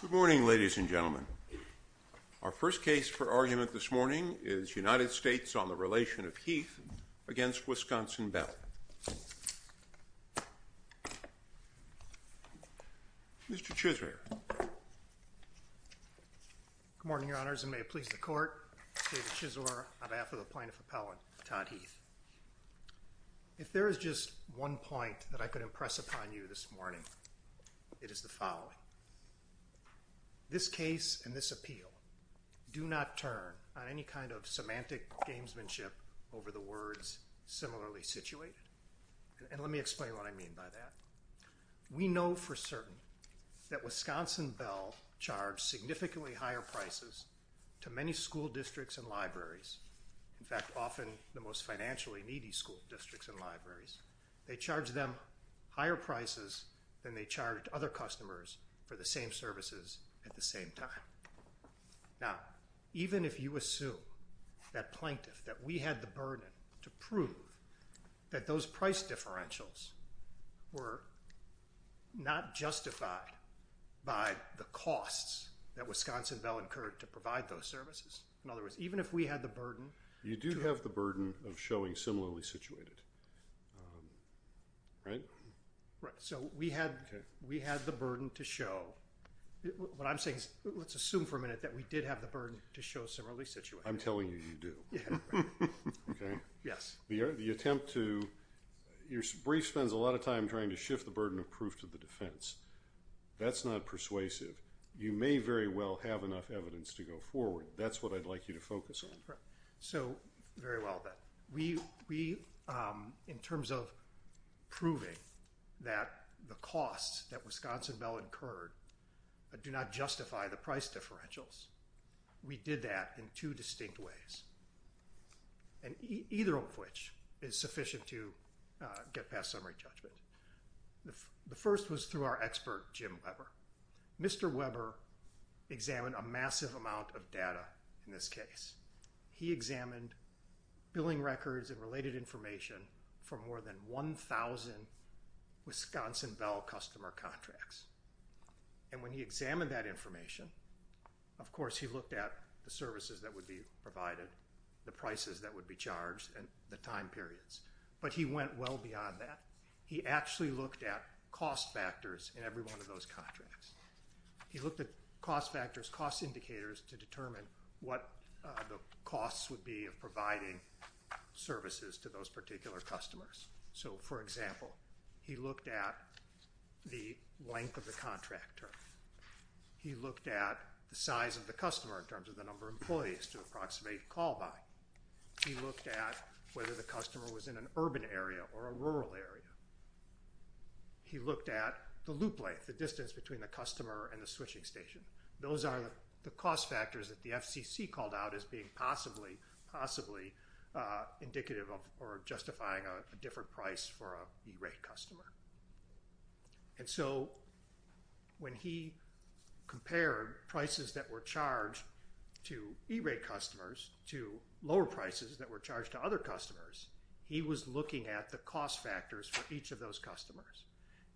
Good morning, ladies and gentlemen. Our first case for argument this morning is United States on the relation of Heath against Wisconsin Bell. Mr. Chisler. Good morning, Your Honors, and may it please the Court, David Chisler on behalf of the Plaintiff Appellant, Todd Heath. If there is just one point that I could impress upon you this morning, it is the following. This case and this appeal do not turn on any kind of semantic gamesmanship over the words similarly situated. And let me explain what I mean by that. We know for certain that Wisconsin Bell charged significantly higher prices to many school districts and libraries. In fact, often the most financially needy school districts and libraries, they charged them higher prices than they charged other customers for the same services at the same time. Now, even if you assume that Plaintiff, that we had the burden to prove that those price differentials were not justified by the costs that Wisconsin Bell incurred to provide those services, in other words, even if we had the burden. You do have the burden of showing similarly situated, right? Right. So we had the burden to show. What I'm saying is, let's assume for a minute that we did have the burden to show similarly situated. I'm telling you, you do. Yes. The attempt to, your brief spends a lot of time trying to shift the burden of proof to the defense. That's not persuasive. You may very well have enough evidence to go forward. That's what I'd like you to focus on. Right. So, very well then. We, in terms of proving that the costs that Wisconsin Bell incurred do not justify the price differentials, we did that in two distinct ways. And either of which is sufficient to get past summary judgment. The first was through our expert, Jim Weber. Mr. Weber examined a massive amount of data in this case. He examined billing records and related information from more than 1,000 Wisconsin Bell customer contracts. And when he examined that information, of course he looked at the services that would be provided, the prices that would be charged, and the time periods. But he went well beyond that. He actually looked at cost factors in every one of those contracts. He looked at cost factors, cost indicators to determine what the costs would be of providing services to those particular customers. So, for example, he looked at the length of the contract term. He looked at the size of the customer in terms of the number of employees to approximate call by. He looked at whether the customer was in an urban area or a rural area. He looked at the loop length, the distance between the customer and the switching station. Those are the cost factors that the FCC called out as being possibly indicative of or justifying a different price for a E-rate customer. And so when he compared prices that were charged to E-rate customers to lower prices that were charged to schools and libraries, he was looking at the cost factors for each of those customers.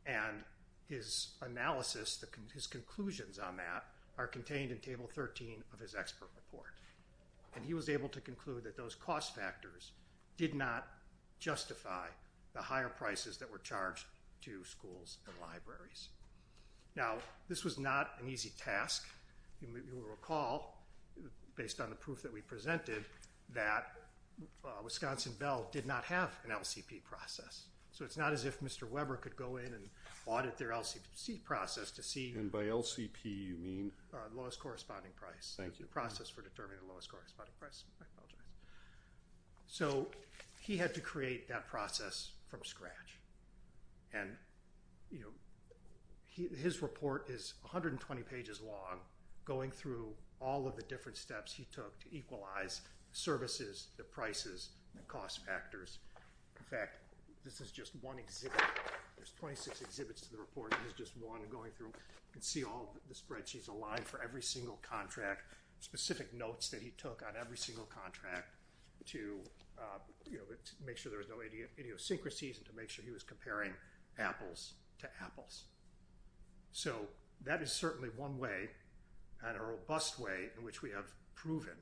And his analysis, his conclusions on that are contained in Table 13 of his expert report. And he was able to conclude that those cost factors did not justify the higher prices that were charged to schools and libraries. Now, this was not an easy task. You will recall, based on the proof that we presented, that Wisconsin Bell did not have an LCP process. So it's not as if Mr. Weber could go in and audit their LCP process to see... And by LCP, you mean? The lowest corresponding price. Thank you. The process for determining the lowest corresponding price. I apologize. So he had to create that process from scratch. And his report is 120 pages long, going through all of the different steps he took to equalize services, the prices, the cost factors. In fact, this is just one exhibit. There's 26 exhibits to the report. This is just one going through. You can see all the spreadsheets aligned for every single contract, specific notes that he took on every single contract to make sure there was no idiosyncrasies and to make sure he was comparing apples to apples. So that is certainly one way and a robust way in which we have proven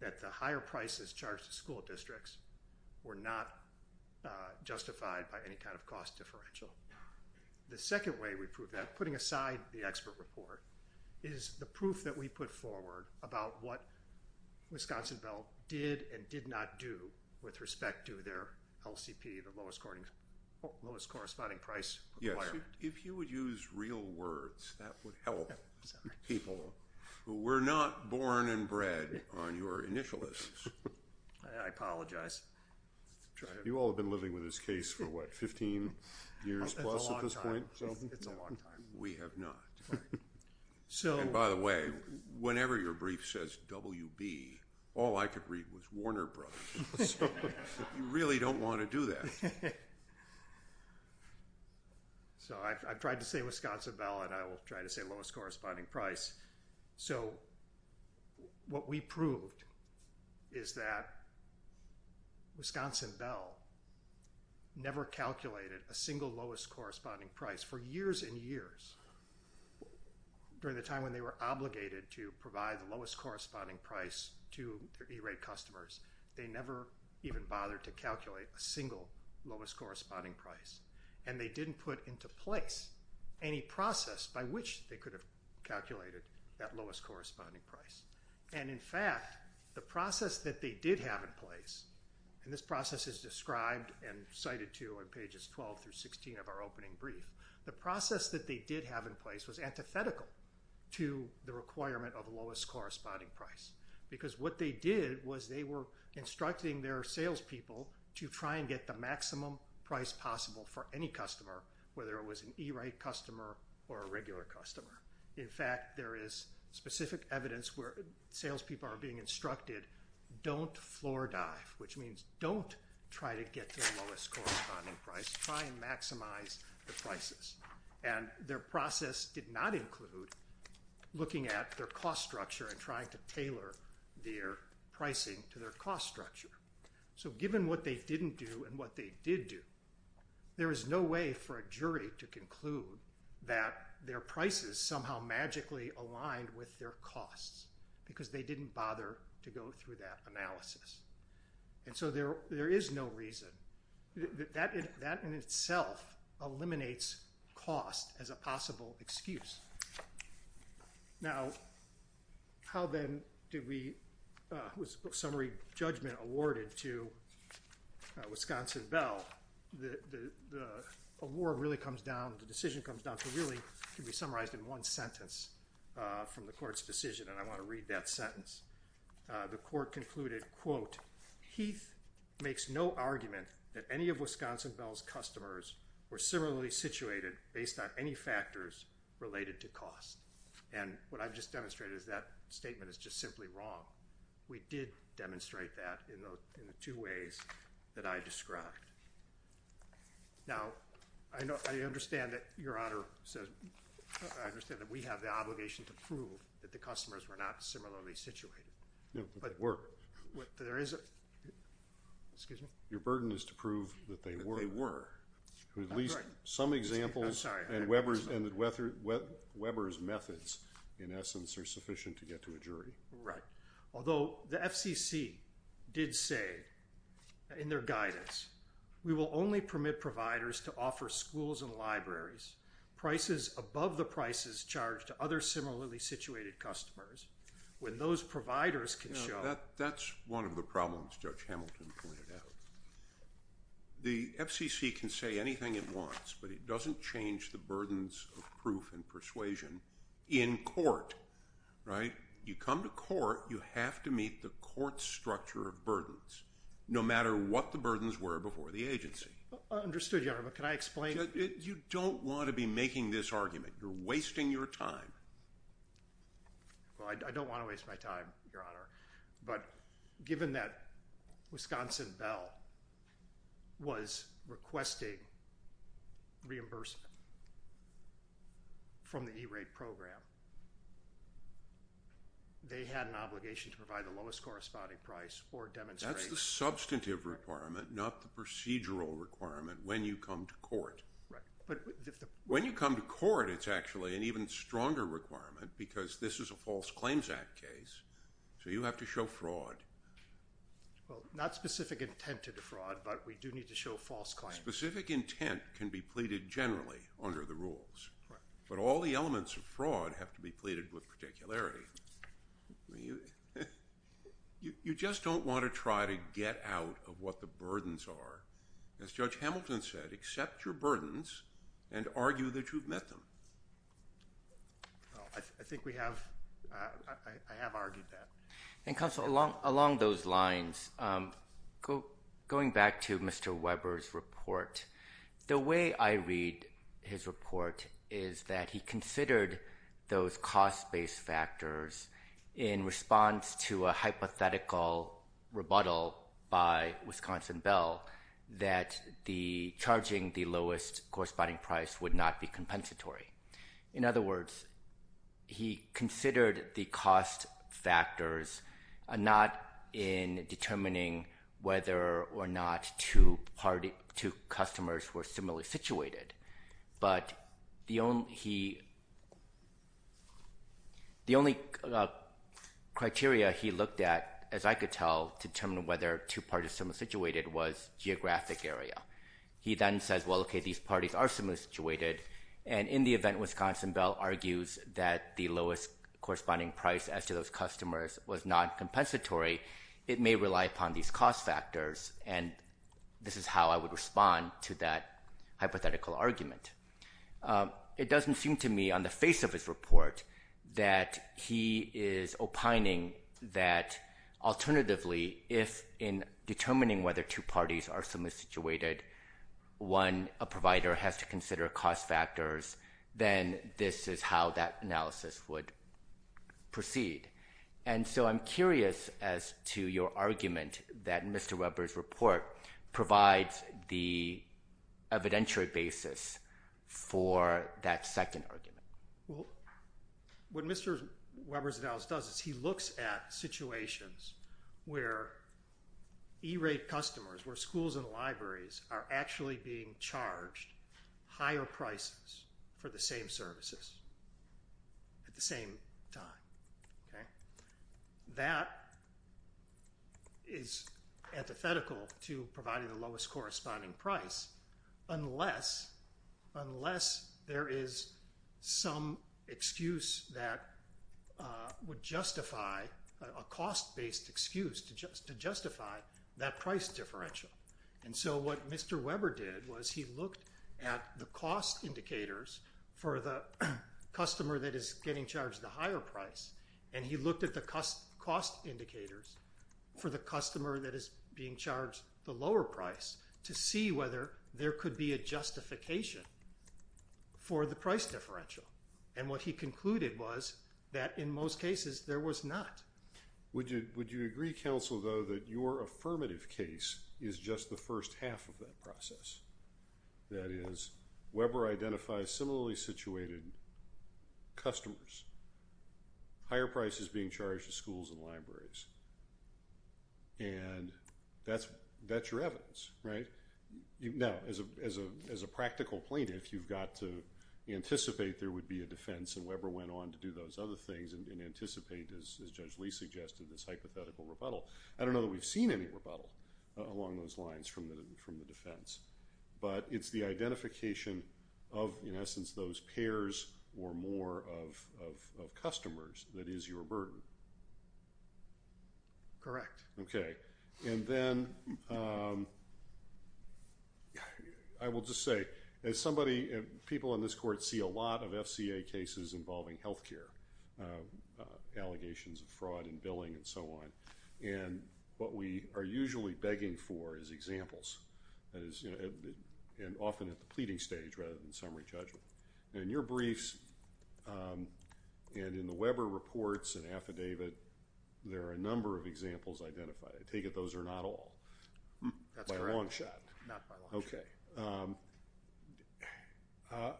that the higher prices charged to school districts were not justified by any kind of cost differential. The second way we proved that, putting aside the expert report, is the proof that we put forward about what Wisconsin Bell did and did not do with respect to their LCP, the lowest corresponding price requirement. If you would use real words, that would help people. We're not born and bred on your initialists. I apologize. You all have been living with this case for what, 15 years plus at this point? It's a long time. We have not. And by the way, whenever your brief says WB, all I could read was Warner Brothers. You really don't want to do that. So I've tried to say Wisconsin Bell and I will try to say lowest corresponding price. So what we proved is that Wisconsin Bell never calculated a single lowest corresponding price. For years and years, during the time when they were obligated to provide the lowest corresponding price to their E-rate customers, they never even bothered to calculate a single lowest corresponding price. And they didn't put into place any process by which they could have calculated that lowest corresponding price. And in fact, the process that they did have in place, and this process is described and cited to on pages 12 through 16 of our opening brief, the process that they did have in place was antithetical to the requirement of lowest corresponding price. Because what they did was they were instructing their salespeople to try and get the maximum price possible for any customer, whether it was an E-rate customer or a regular customer. In fact, there is specific evidence where salespeople are being instructed, don't floor dive, which means don't try to get to the lowest corresponding price, try and maximize the prices. And their process did not include looking at their cost structure and trying to tailor their pricing to their cost structure. So given what they didn't do and what they did do, there is no way for a jury to conclude that their prices somehow magically aligned with their costs because they didn't bother to go through that analysis. And so there how then was summary judgment awarded to Wisconsin Bell? The award really comes down, the decision comes down to really can be summarized in one sentence from the court's decision, and I want to read that sentence. The court concluded, quote, Heath makes no argument that any of Wisconsin Bell's customers were similarly situated based on any factors related to cost. And what I've just demonstrated is that statement is just simply wrong. We did demonstrate that in the two ways that I described. Now, I know, I understand that Your Honor says, I understand that we have the obligation to prove that the customers were not similarly situated. No, but were. But there is a, excuse me? Your burden is to prove that they were. At least some examples and Weber's methods in essence are sufficient to get to a jury. Right. Although the FCC did say in their guidance, we will only permit providers to offer schools and libraries prices above the prices charged to other similarly situated customers when those anything it wants, but it doesn't change the burdens of proof and persuasion in court, right? You come to court, you have to meet the court's structure of burdens, no matter what the burdens were before the agency. Understood, Your Honor, but can I explain? You don't want to be making this argument. You're wasting your time. Well, I don't want to waste my time, Your Honor, but given that Wisconsin Bell was requesting reimbursement from the E-rate program, they had an obligation to provide the lowest corresponding price or demonstrate. That's the substantive requirement, not the procedural requirement when you come to court. Right. But when you come to court, it's actually an even stronger requirement because this is a False Claims Act case. So you have to show fraud. Well, not specific intent to defraud, but we do need to show false claims. Specific intent can be pleaded generally under the rules, but all the elements of fraud have to be pleaded with particularity. You just don't want to try to get out of what the burdens are. As Judge Hamilton said, accept your burdens and argue that you've met them. Well, I think we have. I have argued that. And counsel, along those lines, going back to Mr. Weber's report, the way I read his report is that he considered those cost-based factors in response to a hypothetical rebuttal by Wisconsin Bell that charging the lowest corresponding price would not be compensatory. In other words, he considered the cost factors not in determining whether or not two customers were similarly situated, but the only criteria he looked at, as I could tell, to determine whether two parties similarly situated was geographic area. He then says, well, okay, these parties are similarly situated, and in the event Wisconsin Bell argues that the lowest corresponding price as to those customers was not compensatory, it may rely upon these cost factors, and this is how I would respond to that hypothetical argument. It doesn't seem to me on the face of his report that he is opining that alternatively, if in determining whether two parties are similarly situated, one provider has to consider cost factors, then this is how that analysis would proceed. And so I'm curious as to your argument that Mr. Weber's report provides the evidentiary basis for that second argument. Well, what Mr. Weber's analysis does is he looks at situations where E-rate customers, where schools and libraries are actually being charged higher prices for the same services at the same time. That is antithetical to providing the lowest corresponding price unless there is some excuse that would justify a cost-based excuse to justify that price differential. And so what Mr. Weber did was he looked at the cost indicators for the customer that is getting charged the higher price, and he looked at the cost indicators for the customer that is being charged the lower price to see whether there could be a justification for the price differential. And what he concluded was that in most cases there was not. Would you agree, counsel, though, that your affirmative case is just the first half of that process? That is, Weber identifies similarly situated customers, higher prices being charged to schools and libraries. And that's your evidence, right? Now, as a practical plaintiff, you've got to anticipate there would be a defense, and Weber went on to do those other things and anticipate, as Judge Lee suggested, this hypothetical rebuttal. I don't know that we've seen any rebuttal along those lines from the defense, but it's the identification of, in essence, those pairs or more of customers that is your burden. Correct. Okay. And then I will just say, as somebody, people in this court see a lot of FCA cases involving health care, allegations of fraud and billing and so on, and what we are usually begging for is examples, and often at the pleading stage rather than summary judgment. In your briefs and in the Weber reports and affidavit, there are a number of examples identified. I take it those are not all. That's correct. By a long shot. Not by a long shot. Okay.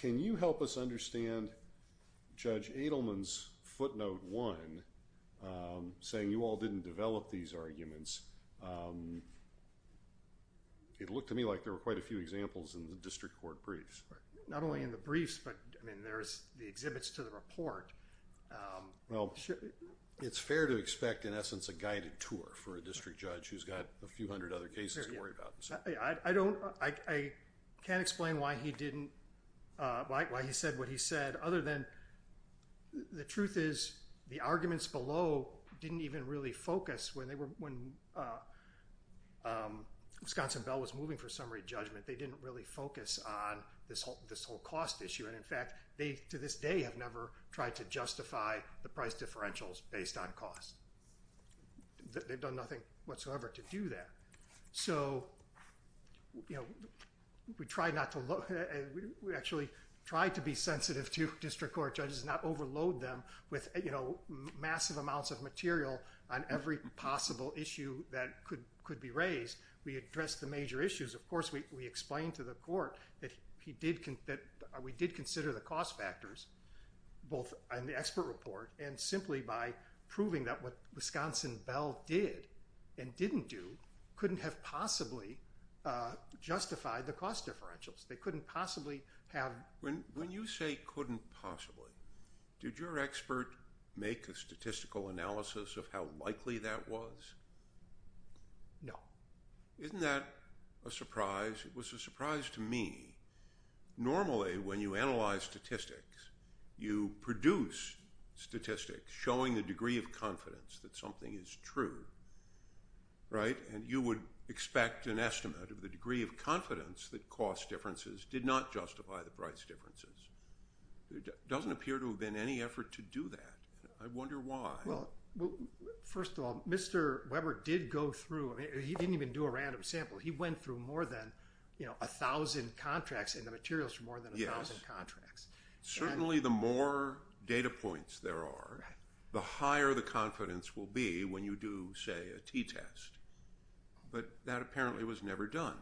Can you help us understand Judge Edelman's footnote one, saying you all didn't develop these arguments? It looked to me like there were quite a few examples in the district court briefs. Not only in the briefs, but, I mean, there's the exhibits to the report. Well, it's fair to expect, in essence, a guided tour for a district judge who's got a few hundred other cases to worry about. I can't explain why he said what he said, other than the truth is the arguments below didn't even really focus. When Wisconsin Bell was moving for summary judgment, they didn't really focus on this whole cost issue, and, in fact, they, to this day, have never tried to justify the price differentials based on cost. They've done nothing whatsoever to do that. So we actually tried to be sensitive to district court judges and not overload them with massive amounts of material on every possible issue that could be raised. We addressed the major issues. Of course, we explained to the court that we did consider the cost factors, both in the expert report and simply by proving that what Wisconsin Bell did and didn't do couldn't have possibly justified the cost differentials. They couldn't possibly have— When you say couldn't possibly, did your expert make a statistical analysis of how likely that was? No. Isn't that a surprise? It was a surprise to me. Normally, when you analyze statistics, you produce statistics showing the degree of confidence that something is true, right? And you would expect an estimate of the degree of confidence that cost differences did not justify the price differences. There doesn't appear to have been any effort to do that. I wonder why. Well, first of all, Mr. Weber did go through—I mean, he didn't even do a random sample. He went through more than 1,000 contracts and the materials for more than 1,000 contracts. Certainly, the more data points there are, the higher the confidence will be when you do, say, a t-test. But that apparently was never done.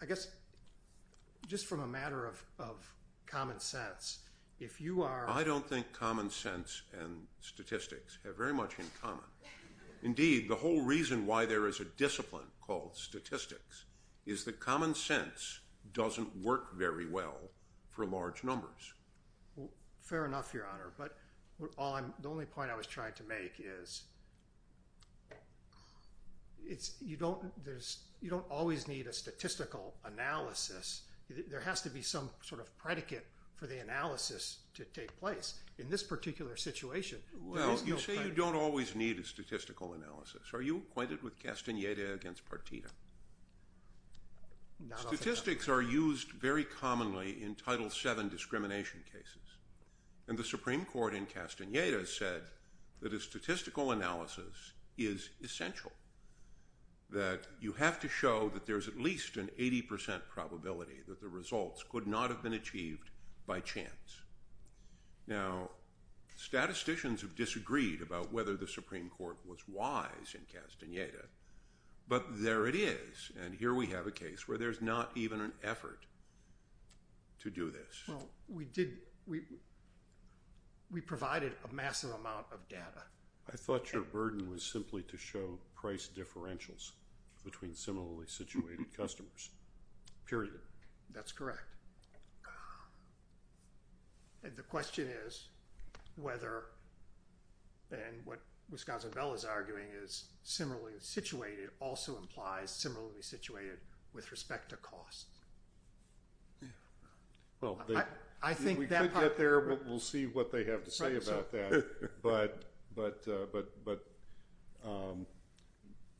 I guess just from a matter of common sense, if you are— I don't think common sense and statistics have very much in common. Indeed, the whole reason why there is a discipline called statistics is that common sense doesn't work very well for large numbers. Fair enough, Your Honor. But the only point I was trying to make is that you don't always need a statistical analysis. There has to be some sort of predicate for the analysis to take place. In this particular situation, there is no predicate. Well, you say you don't always need a statistical analysis. Are you acquainted with Castaneda against Partita? Statistics are used very commonly in Title VII discrimination cases. And the Supreme Court in Castaneda said that a statistical analysis is essential, that you have to show that there's at least an 80 percent probability that the results could not have been achieved by chance. Now, statisticians have disagreed about whether the Supreme Court was wise in Castaneda, but there it is. And here we have a case where there's not even an effort to do this. Well, we provided a massive amount of data. I thought your burden was simply to show price differentials between similarly situated customers, period. That's correct. And the question is whether, and what Wisconsin Bell is arguing is similarly situated also implies similarly situated with respect to cost. Well, I think we could get there, but we'll see what they have to say about that. But,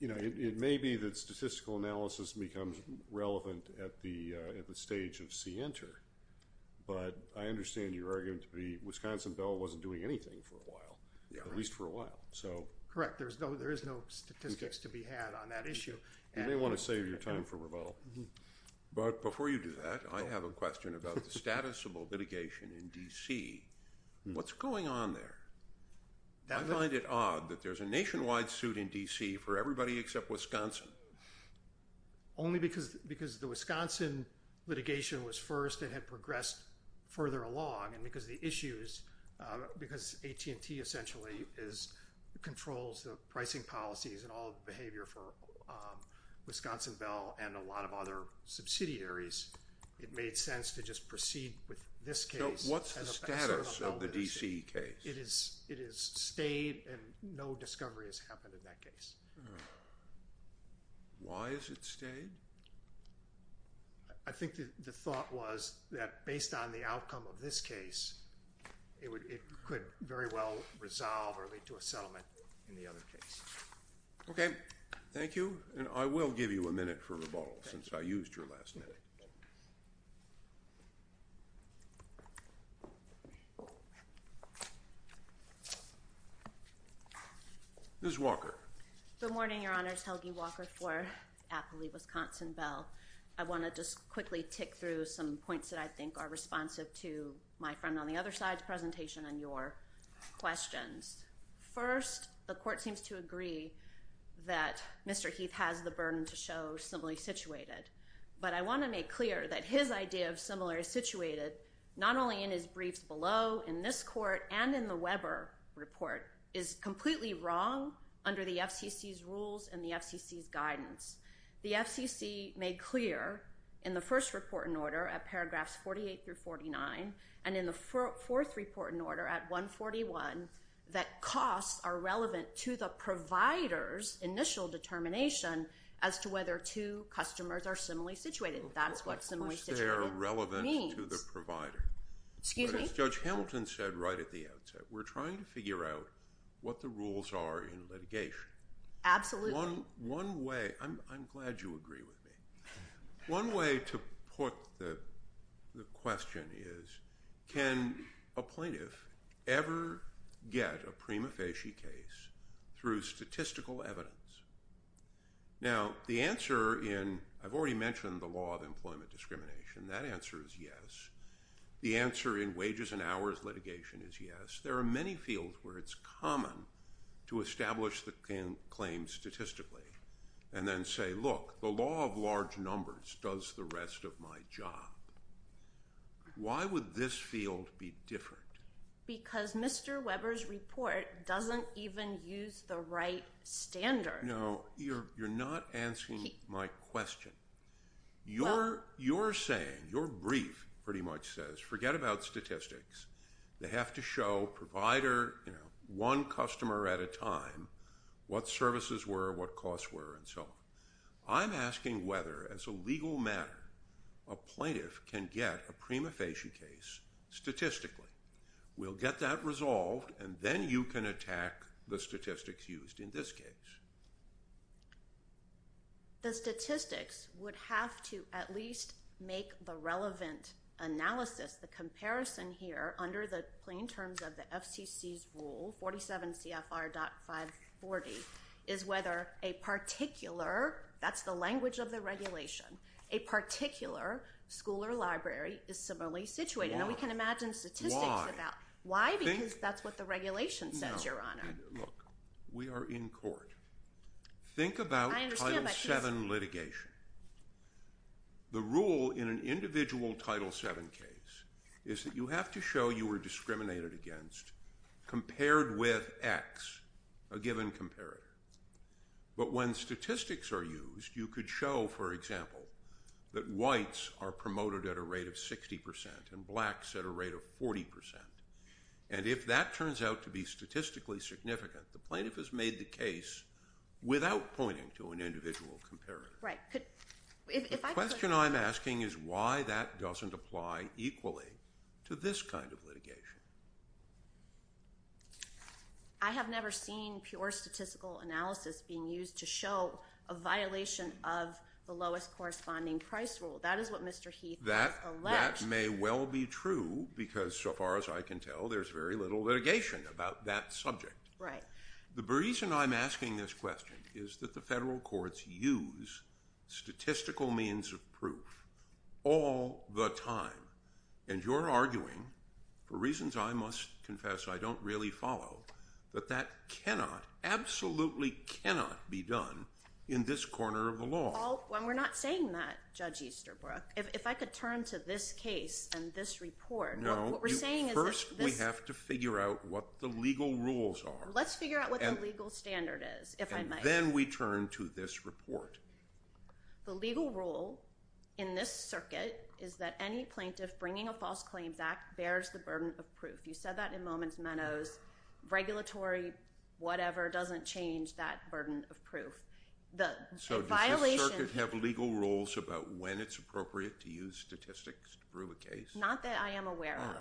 you know, it may be that statistical analysis becomes relevant at the stage of CENTER. But I understand you're arguing to be Wisconsin Bell wasn't doing anything for a while, at least for a while. Correct. There is no statistics to be had on that issue. You may want to save your time for rebuttal. But before you do that, I have a question about the status of litigation in D.C. What's going on there? I find it odd that there's a nationwide suit in D.C. for everybody except Wisconsin. Only because the Wisconsin litigation was first and had progressed further along and because the issues, because AT&T essentially controls the pricing policies and all the Wisconsin Bell and a lot of other subsidiaries, it made sense to just proceed with this case. What's the status of the D.C. case? It has stayed and no discovery has happened in that case. Why has it stayed? I think the thought was that based on the outcome of this case, it could very well resolve or lead to a settlement in the other case. OK. Thank you. And I will give you a minute for rebuttal since I used your last minute. Ms. Walker. Good morning, Your Honors. Helgi Walker for Appley Wisconsin Bell. I want to just quickly tick through some points that I think are responsive to my friend on the other side's presentation and your questions. First, the court seems to agree that Mr. Heath has the burden to show similarly situated. But I want to make clear that his idea of similarly situated, not only in his briefs below, in this court and in the Weber report, is completely wrong under the FCC's rules and the FCC's guidance. The FCC made clear in the first report in order at paragraphs 48 through 49 and in the fourth report in order at 141 that costs are relevant to the provider's initial determination as to whether two customers are similarly situated. That's what similarly situated means. Of course they are relevant to the provider. Excuse me? As Judge Hamilton said right at the outset, we're trying to figure out what the rules are in litigation. Absolutely. One way, I'm glad you agree with me. One way to put the question is, can a plaintiff ever get a prima facie case through statistical evidence? Now the answer in, I've already mentioned the law of employment discrimination, that answer is yes. The answer in wages and hours litigation is yes. There are many fields where it's common to establish the claim statistically and then look, the law of large numbers does the rest of my job. Why would this field be different? Because Mr. Weber's report doesn't even use the right standard. No, you're not answering my question. You're saying, your brief pretty much says, forget about statistics. They have to show provider, one customer at a time, what services were, what costs were, and so on. I'm asking whether, as a legal matter, a plaintiff can get a prima facie case statistically. We'll get that resolved and then you can attack the statistics used in this case. The statistics would have to at least make the relevant analysis, the comparison here under the plain terms of the FCC's rule, 47CFR.540, is whether a particular, that's the language of the regulation, a particular school or library is similarly situated. Now we can imagine statistics about, why? Because that's what the regulation says, Your Honor. Look, we are in court. Think about Title VII litigation. The rule in an individual Title VII case is that you have to show you were discriminated against compared with X, a given comparator. But when statistics are used, you could show, for example, that whites are promoted at a rate of 60% and blacks at a rate of 40%. And if that turns out to be statistically significant, the plaintiff has made the case without pointing to an individual comparator. The question I'm asking is why that doesn't apply equally to this kind of litigation. I have never seen pure statistical analysis being used to show a violation of the lowest corresponding price rule. That is what Mr. Heath has alleged. That may well be true because so far as I can tell, there's very little litigation about that subject. The reason I'm asking this question is that the federal courts use statistical means of proof all the time. And you're arguing, for reasons I must confess I don't really follow, that that absolutely cannot be done in this corner of the law. Well, we're not saying that, Judge Easterbrook. If I could turn to this case and this report, what we're saying is this— Let's figure out what the legal standard is, if I might. And then we turn to this report. The legal rule in this circuit is that any plaintiff bringing a false claims act bears the burden of proof. You said that in a moment, Meadows. Regulatory whatever doesn't change that burden of proof. So does this circuit have legal rules about when it's appropriate to use statistics to prove a case? Not that I am aware of.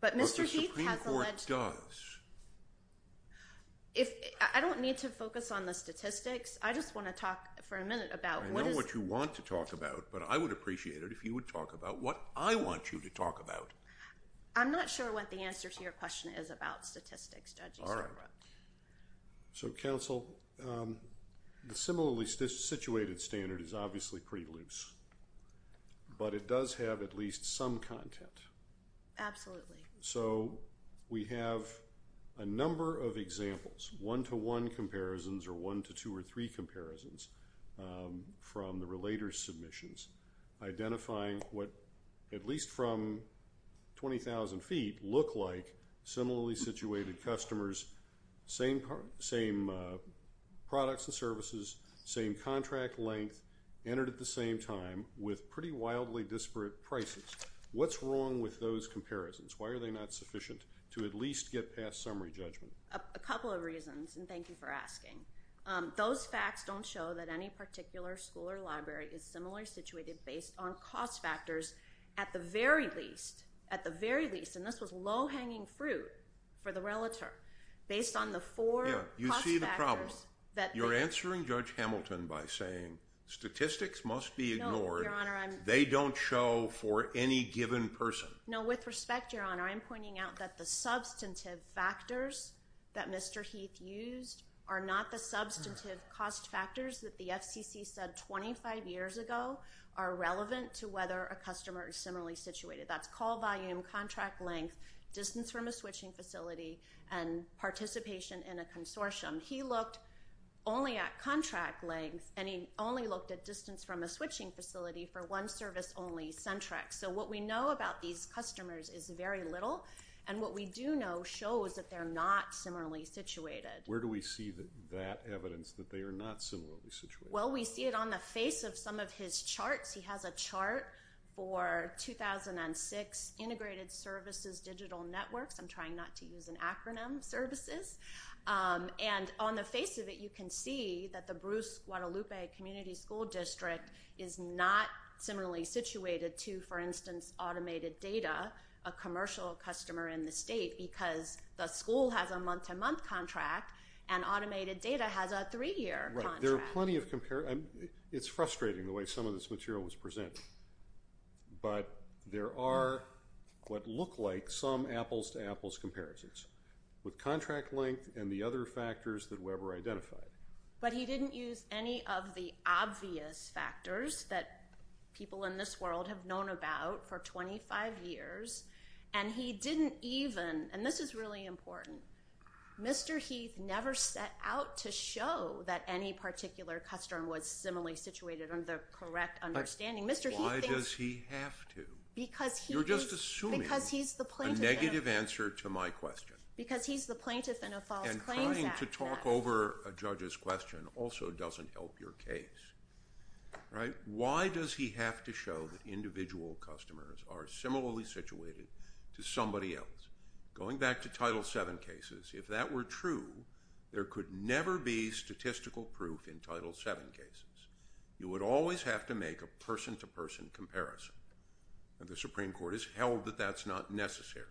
But Mr. Heath has alleged— If—I don't need to focus on the statistics. I just want to talk for a minute about what is— I know what you want to talk about, but I would appreciate it if you would talk about what I want you to talk about. I'm not sure what the answer to your question is about statistics, Judge Easterbrook. All right. So, counsel, the similarly situated standard is obviously pretty loose. But it does have at least some content. Absolutely. So we have a number of examples, one-to-one comparisons or one-to-two-or-three comparisons from the relator's submissions identifying what, at least from 20,000 feet, look like similarly situated customers, same products and services, same contract length, entered at the same time with pretty wildly disparate prices. What's wrong with those comparisons? Why are they not sufficient to at least get past summary judgment? A couple of reasons, and thank you for asking. Those facts don't show that any particular school or library is similarly situated based on cost factors at the very least, at the very least—and this was low-hanging fruit for the relator—based on the four cost factors that— Yeah, you see the problem. You're answering Judge Hamilton by saying statistics must be ignored. No, Your Honor, I'm— They don't show for any given person. No, with respect, Your Honor, I'm pointing out that the substantive factors that Mr. Heath used are not the substantive cost factors that the FCC said 25 years ago are relevant to whether a customer is similarly situated. That's call volume, contract length, distance from a switching facility, and participation in a consortium. He looked only at contract length, and he only looked at distance from a switching facility for one service only, Centrex. So what we know about these customers is very little, and what we do know shows that they're not similarly situated. Where do we see that evidence that they are not similarly situated? Well, we see it on the face of some of his charts. He has a chart for 2006 integrated services digital networks. I'm trying not to use an acronym, services. And on the face of it, you can see that the Bruce Guadalupe Community School District is not similarly situated to, for instance, automated data, a commercial customer in the state, because the school has a month-to-month contract, and automated data has a three-year contract. There are plenty of comparisons. It's frustrating the way some of this material was presented, but there are what look like some apples-to-apples comparisons with contract length and the other factors that Weber identified. But he didn't use any of the obvious factors that people in this world have known about for 25 years. And he didn't even, and this is really important, Mr. Heath never set out to show that any particular customer was similarly situated under the correct understanding. Mr. Heath thinks- Why does he have to? Because he is- You're just assuming- Because he's the plaintiff- A negative answer to my question. Because he's the plaintiff in a false claims act. Trying to talk over a judge's question also doesn't help your case. Why does he have to show that individual customers are similarly situated to somebody else? Going back to Title VII cases, if that were true, there could never be statistical proof in Title VII cases. You would always have to make a person-to-person comparison, and the Supreme Court has held that that's not necessary.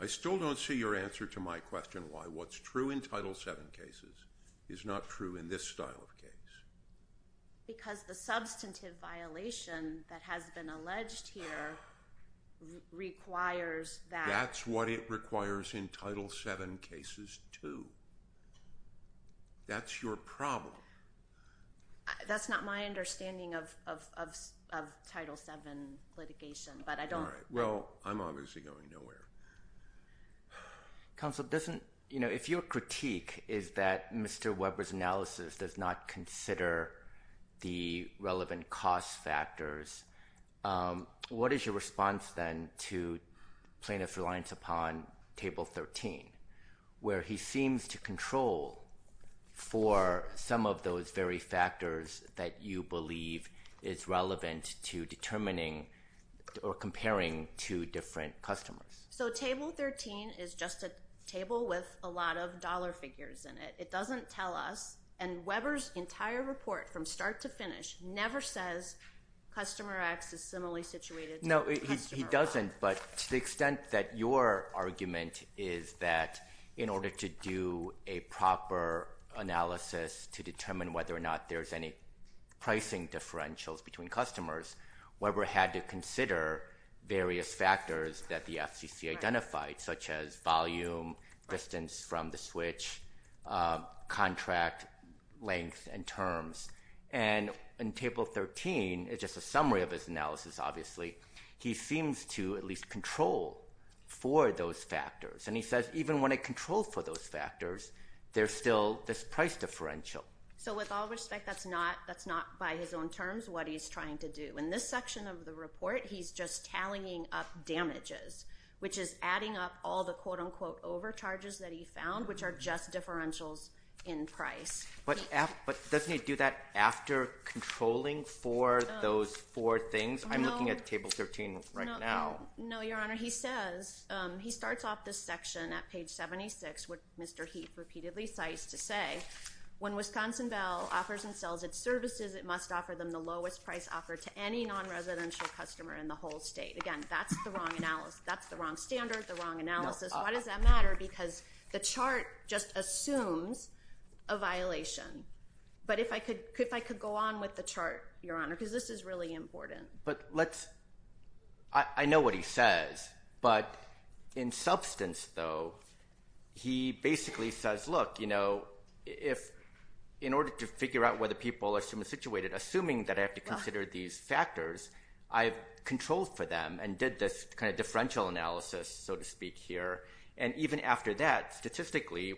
I still don't see your answer to my question why what's true in Title VII cases is not true in this style of case. Because the substantive violation that has been alleged here requires that- That's what it requires in Title VII cases too. That's your problem. That's not my understanding of Title VII litigation, but I don't- I'm obviously going nowhere. Counsel, if your critique is that Mr. Weber's analysis does not consider the relevant cost factors, what is your response then to plaintiff's reliance upon Table 13, where he seems to different customers? Table 13 is just a table with a lot of dollar figures in it. It doesn't tell us, and Weber's entire report from start to finish never says Customer X is similarly situated to Customer Y. No, he doesn't, but to the extent that your argument is that in order to do a proper analysis to determine whether or not there's any pricing differentials between customers, Weber had to consider various factors that the FCC identified, such as volume, distance from the switch, contract length and terms. And in Table 13, it's just a summary of his analysis, obviously, he seems to at least control for those factors. And he says even when I control for those factors, there's still this price differential. So with all respect, that's not by his own terms what he's trying to do. In this section of the report, he's just tallying up damages, which is adding up all the quote-unquote overcharges that he found, which are just differentials in price. But doesn't he do that after controlling for those four things? I'm looking at Table 13 right now. No, Your Honor, he says, he starts off this section at page 76, what Mr. Heath repeatedly cites to say, when Wisconsin Bell offers and sells its services, it must offer them the benefit of any non-residential customer in the whole state. Again, that's the wrong analysis, that's the wrong standard, the wrong analysis. Why does that matter? Because the chart just assumes a violation. But if I could go on with the chart, Your Honor, because this is really important. But let's, I know what he says. But in substance, though, he basically says, look, you know, if in order to figure out whether people are similarly situated, assuming that I have to consider these factors, I've controlled for them and did this kind of differential analysis, so to speak, here. And even after that, statistically,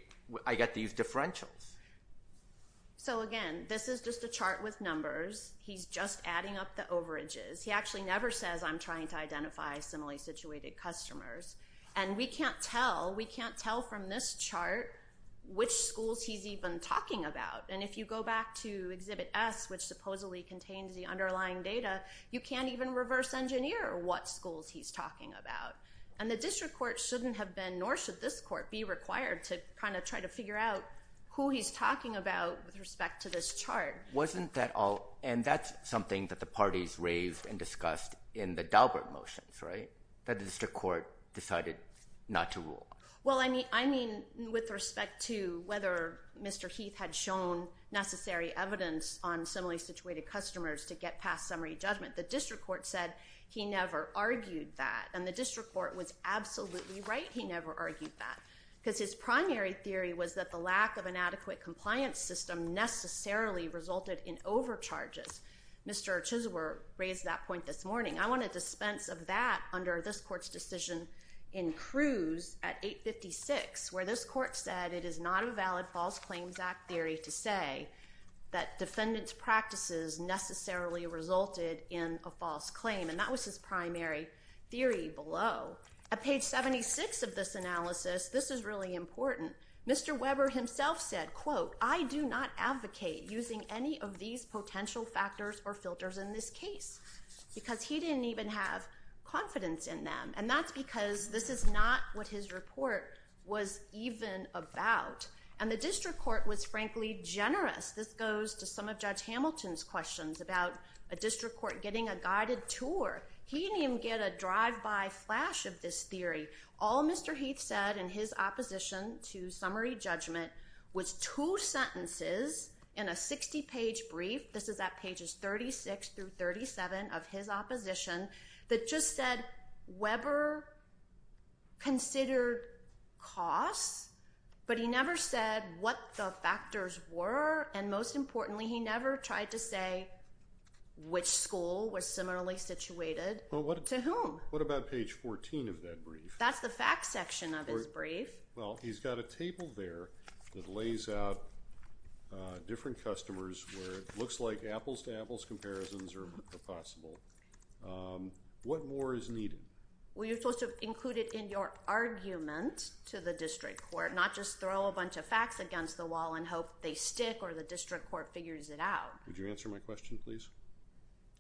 I get these differentials. So again, this is just a chart with numbers. He's just adding up the overages. He actually never says, I'm trying to identify similarly situated customers. And we can't tell, we can't tell from this chart which schools he's even talking about. And if you go back to Exhibit S, which supposedly contains the underlying data, you can't even reverse engineer what schools he's talking about. And the district court shouldn't have been, nor should this court, be required to kind of try to figure out who he's talking about with respect to this chart. Wasn't that all, and that's something that the parties raised and discussed in the Daubert motions, right? That the district court decided not to rule. Well, I mean with respect to whether Mr. Heath had shown necessary evidence on similarly situated customers to get past summary judgment. The district court said he never argued that. And the district court was absolutely right, he never argued that. Because his primary theory was that the lack of an adequate compliance system necessarily resulted in overcharges. Mr. Chisler raised that point this morning. I want to dispense of that under this court's decision in Cruz at 856, where this court said it is not a valid False Claims Act theory to say that defendant's practices necessarily resulted in a false claim. And that was his primary theory below. At page 76 of this analysis, this is really important. Mr. Weber himself said, quote, I do not advocate using any of these potential factors or filters in this case, because he didn't even have confidence in them. And that's because this is not what his report was even about. And the district court was, frankly, generous. This goes to some of Judge Hamilton's questions about a district court getting a guided tour. He didn't even get a drive-by flash of this theory. All Mr. Heath said in his opposition to summary judgment was two sentences in a 60-page brief. This is at pages 36 through 37 of his opposition that just said Weber considered costs. But he never said what the factors were. And most importantly, he never tried to say which school was similarly situated to whom. What about page 14 of that brief? That's the facts section of his brief. Well, he's got a table there that lays out different customers where it looks like apples to apples comparisons are possible. What more is needed? Well, you're supposed to include it in your argument to the district court, not just throw a bunch of facts against the wall and hope they stick or the district court figures it out. Would you answer my question, please?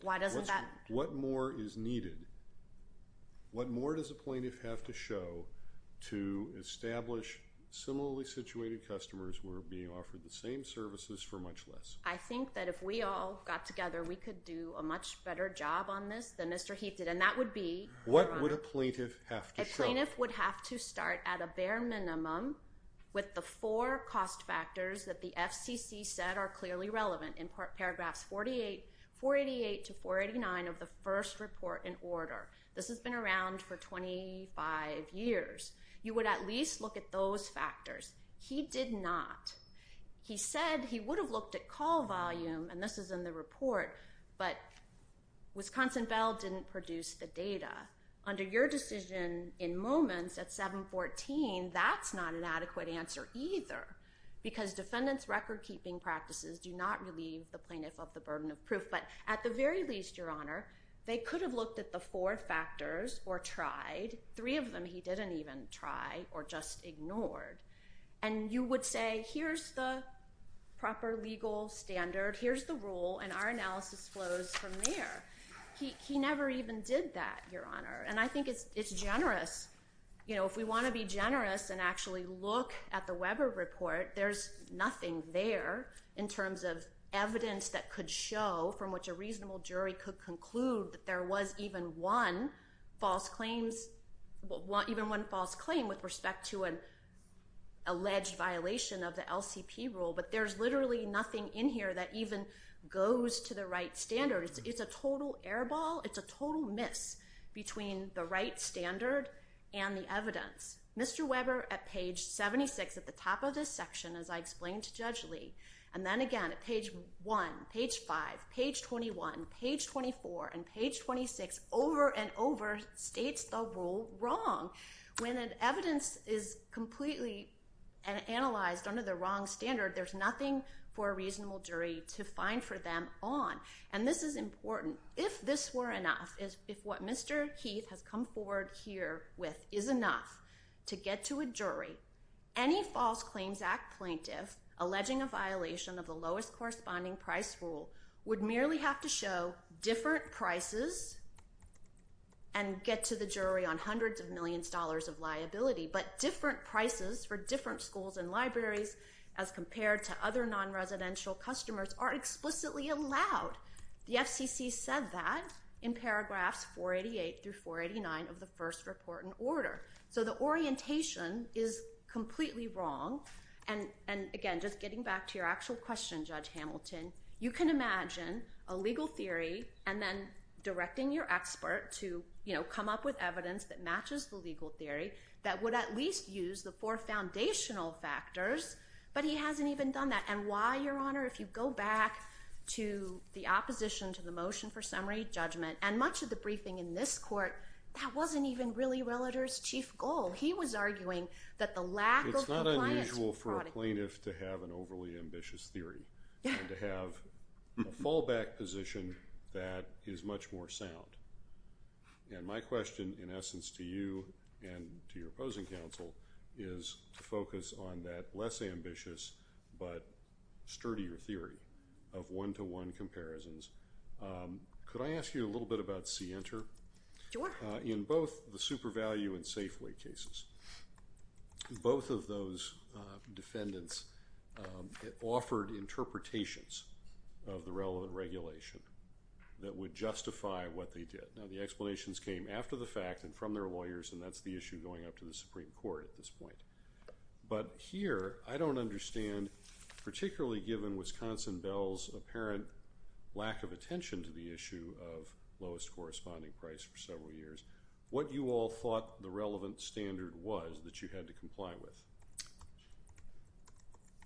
Why doesn't that? What more is needed? And what more does a plaintiff have to show to establish similarly situated customers were being offered the same services for much less? I think that if we all got together, we could do a much better job on this than Mr. Heath did, and that would be. What would a plaintiff have to show? A plaintiff would have to start at a bare minimum with the four cost factors that the has been around for 25 years. You would at least look at those factors. He did not. He said he would have looked at call volume, and this is in the report, but Wisconsin Bell didn't produce the data. Under your decision in moments at 714, that's not an adequate answer either because defendants' recordkeeping practices do not relieve the plaintiff of the burden of proof. At the very least, Your Honor, they could have looked at the four factors or tried. Three of them he didn't even try or just ignored. You would say, here's the proper legal standard. Here's the rule, and our analysis flows from there. He never even did that, Your Honor. I think it's generous. If we want to be generous and actually look at the Weber report, there's nothing there in terms of evidence that could show from which a reasonable jury could conclude that there was even one false claim with respect to an alleged violation of the LCP rule, but there's literally nothing in here that even goes to the right standard. It's a total airball. It's a total miss between the right standard and the evidence. Mr. Weber at page 76 at the top of this section, as I explained to Judge Lee, and then again at page 1, page 5, page 21, page 24, and page 26, over and over, states the rule wrong. When an evidence is completely analyzed under the wrong standard, there's nothing for a reasonable jury to find for them on. This is important. If this were enough, if what Mr. Keith has come forward here with is enough to get to a jury, any False Claims Act plaintiff alleging a violation of the lowest corresponding price rule would merely have to show different prices and get to the jury on hundreds of millions of dollars of liability, but different prices for different schools and libraries as compared to other non-residential customers are explicitly allowed. The FCC said that in paragraphs 488 through 489 of the first report and order. So the orientation is completely wrong. And again, just getting back to your actual question, Judge Hamilton, you can imagine a legal theory and then directing your expert to come up with evidence that matches the legal theory that would at least use the four foundational factors, but he hasn't even done that. And why, Your Honor, if you go back to the opposition to the motion for summary judgment, and much of the briefing in this court, that wasn't even really Realtor's chief goal. He was arguing that the lack of compliance was fraud. It's not unusual for a plaintiff to have an overly ambitious theory and to have a fallback position that is much more sound. And my question, in essence, to you and to your opposing counsel is to focus on that less ambitious but sturdier theory of one-to-one comparisons. Could I ask you a little bit about Center? Sure. In both the super value and Safeway cases, both of those defendants offered interpretations of the relevant regulation that would justify what they did. Now, the explanations came after the fact and from their lawyers, and that's the issue going up to the Supreme Court at this point. But here, I don't understand, particularly given Wisconsin Bell's apparent lack of attention to the issue of lowest corresponding price for several years, what you all thought the relevant standard was that you had to comply with.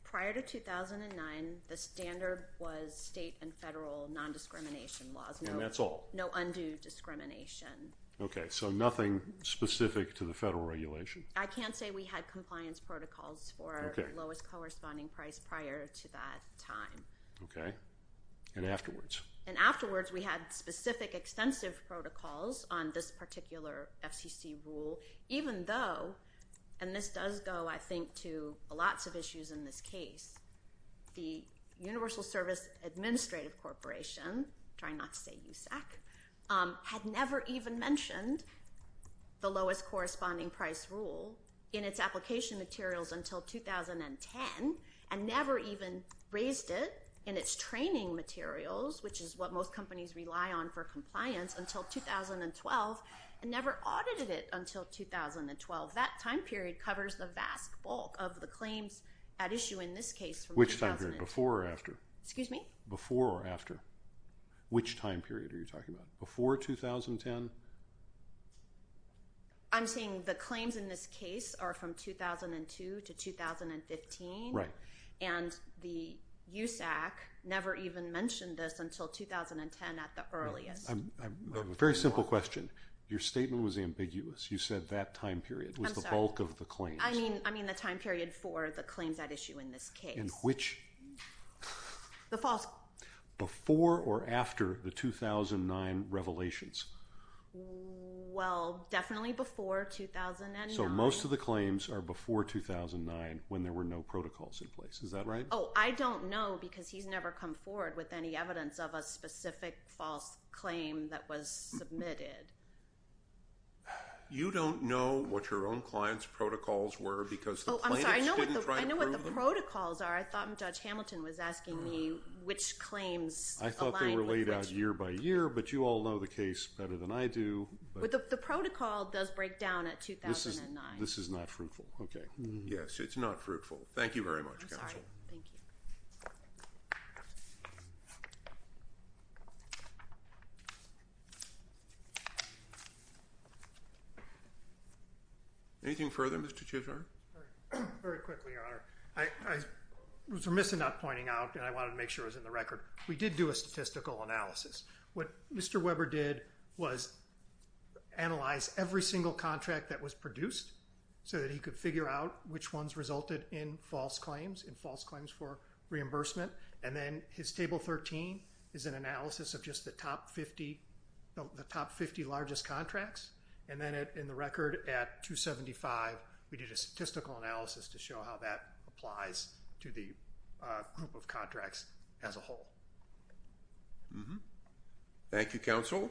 Prior to 2009, the standard was state and federal non-discrimination laws. And that's all? No undue discrimination. Okay. So nothing specific to the federal regulation? I can't say we had compliance protocols for lowest corresponding price prior to that time. Okay. And afterwards? And afterwards, we had specific extensive protocols on this particular FCC rule, even though, and this does go, I think, to lots of issues in this case, the Universal Service Administrative Corporation, trying not to say USAC, had never even mentioned the lowest corresponding price rule in its application materials until 2010, and never even raised it in its training materials, which is what most companies rely on for compliance, until 2012, and never audited it until 2012. That time period covers the vast bulk of the claims at issue in this case. Which time period? Before or after? Excuse me? Before or after? Which time period are you talking about? Before 2010? I'm saying the claims in this case are from 2002 to 2015. Right. And the USAC never even mentioned this until 2010 at the earliest. I have a very simple question. Your statement was ambiguous. You said that time period was the bulk of the claims. I'm sorry. I mean the time period for the claims at issue in this case. In which? The false. Before or after the 2009 revelations? Well, definitely before 2009. So most of the claims are before 2009 when there were no protocols in place. Is that right? Oh, I don't know because he's never come forward with any evidence of a specific false claim that was submitted. You don't know what your own client's protocols were because the plaintiffs didn't try to prove them. Oh, I'm sorry. I know what the protocols are. I thought Judge Hamilton was asking me which claims align with which. But you all know the case better than I do. But the protocol does break down at 2009. This is not fruitful. Okay. Yes, it's not fruitful. Thank you very much, counsel. I'm sorry. Thank you. Anything further, Mr. Chief Judge? Very quickly, Your Honor. I was remiss in not pointing out and I wanted to make sure it was in the record. We did do a statistical analysis. What Mr. Weber did was analyze every single contract that was produced so that he could figure out which ones resulted in false claims, in false claims for reimbursement. And then his Table 13 is an analysis of just the top 50 largest contracts. And then in the record at 275, we did a statistical analysis to show how that applies to the group of contracts as a whole. Thank you, counsel.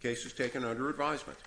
Case is taken under advisement.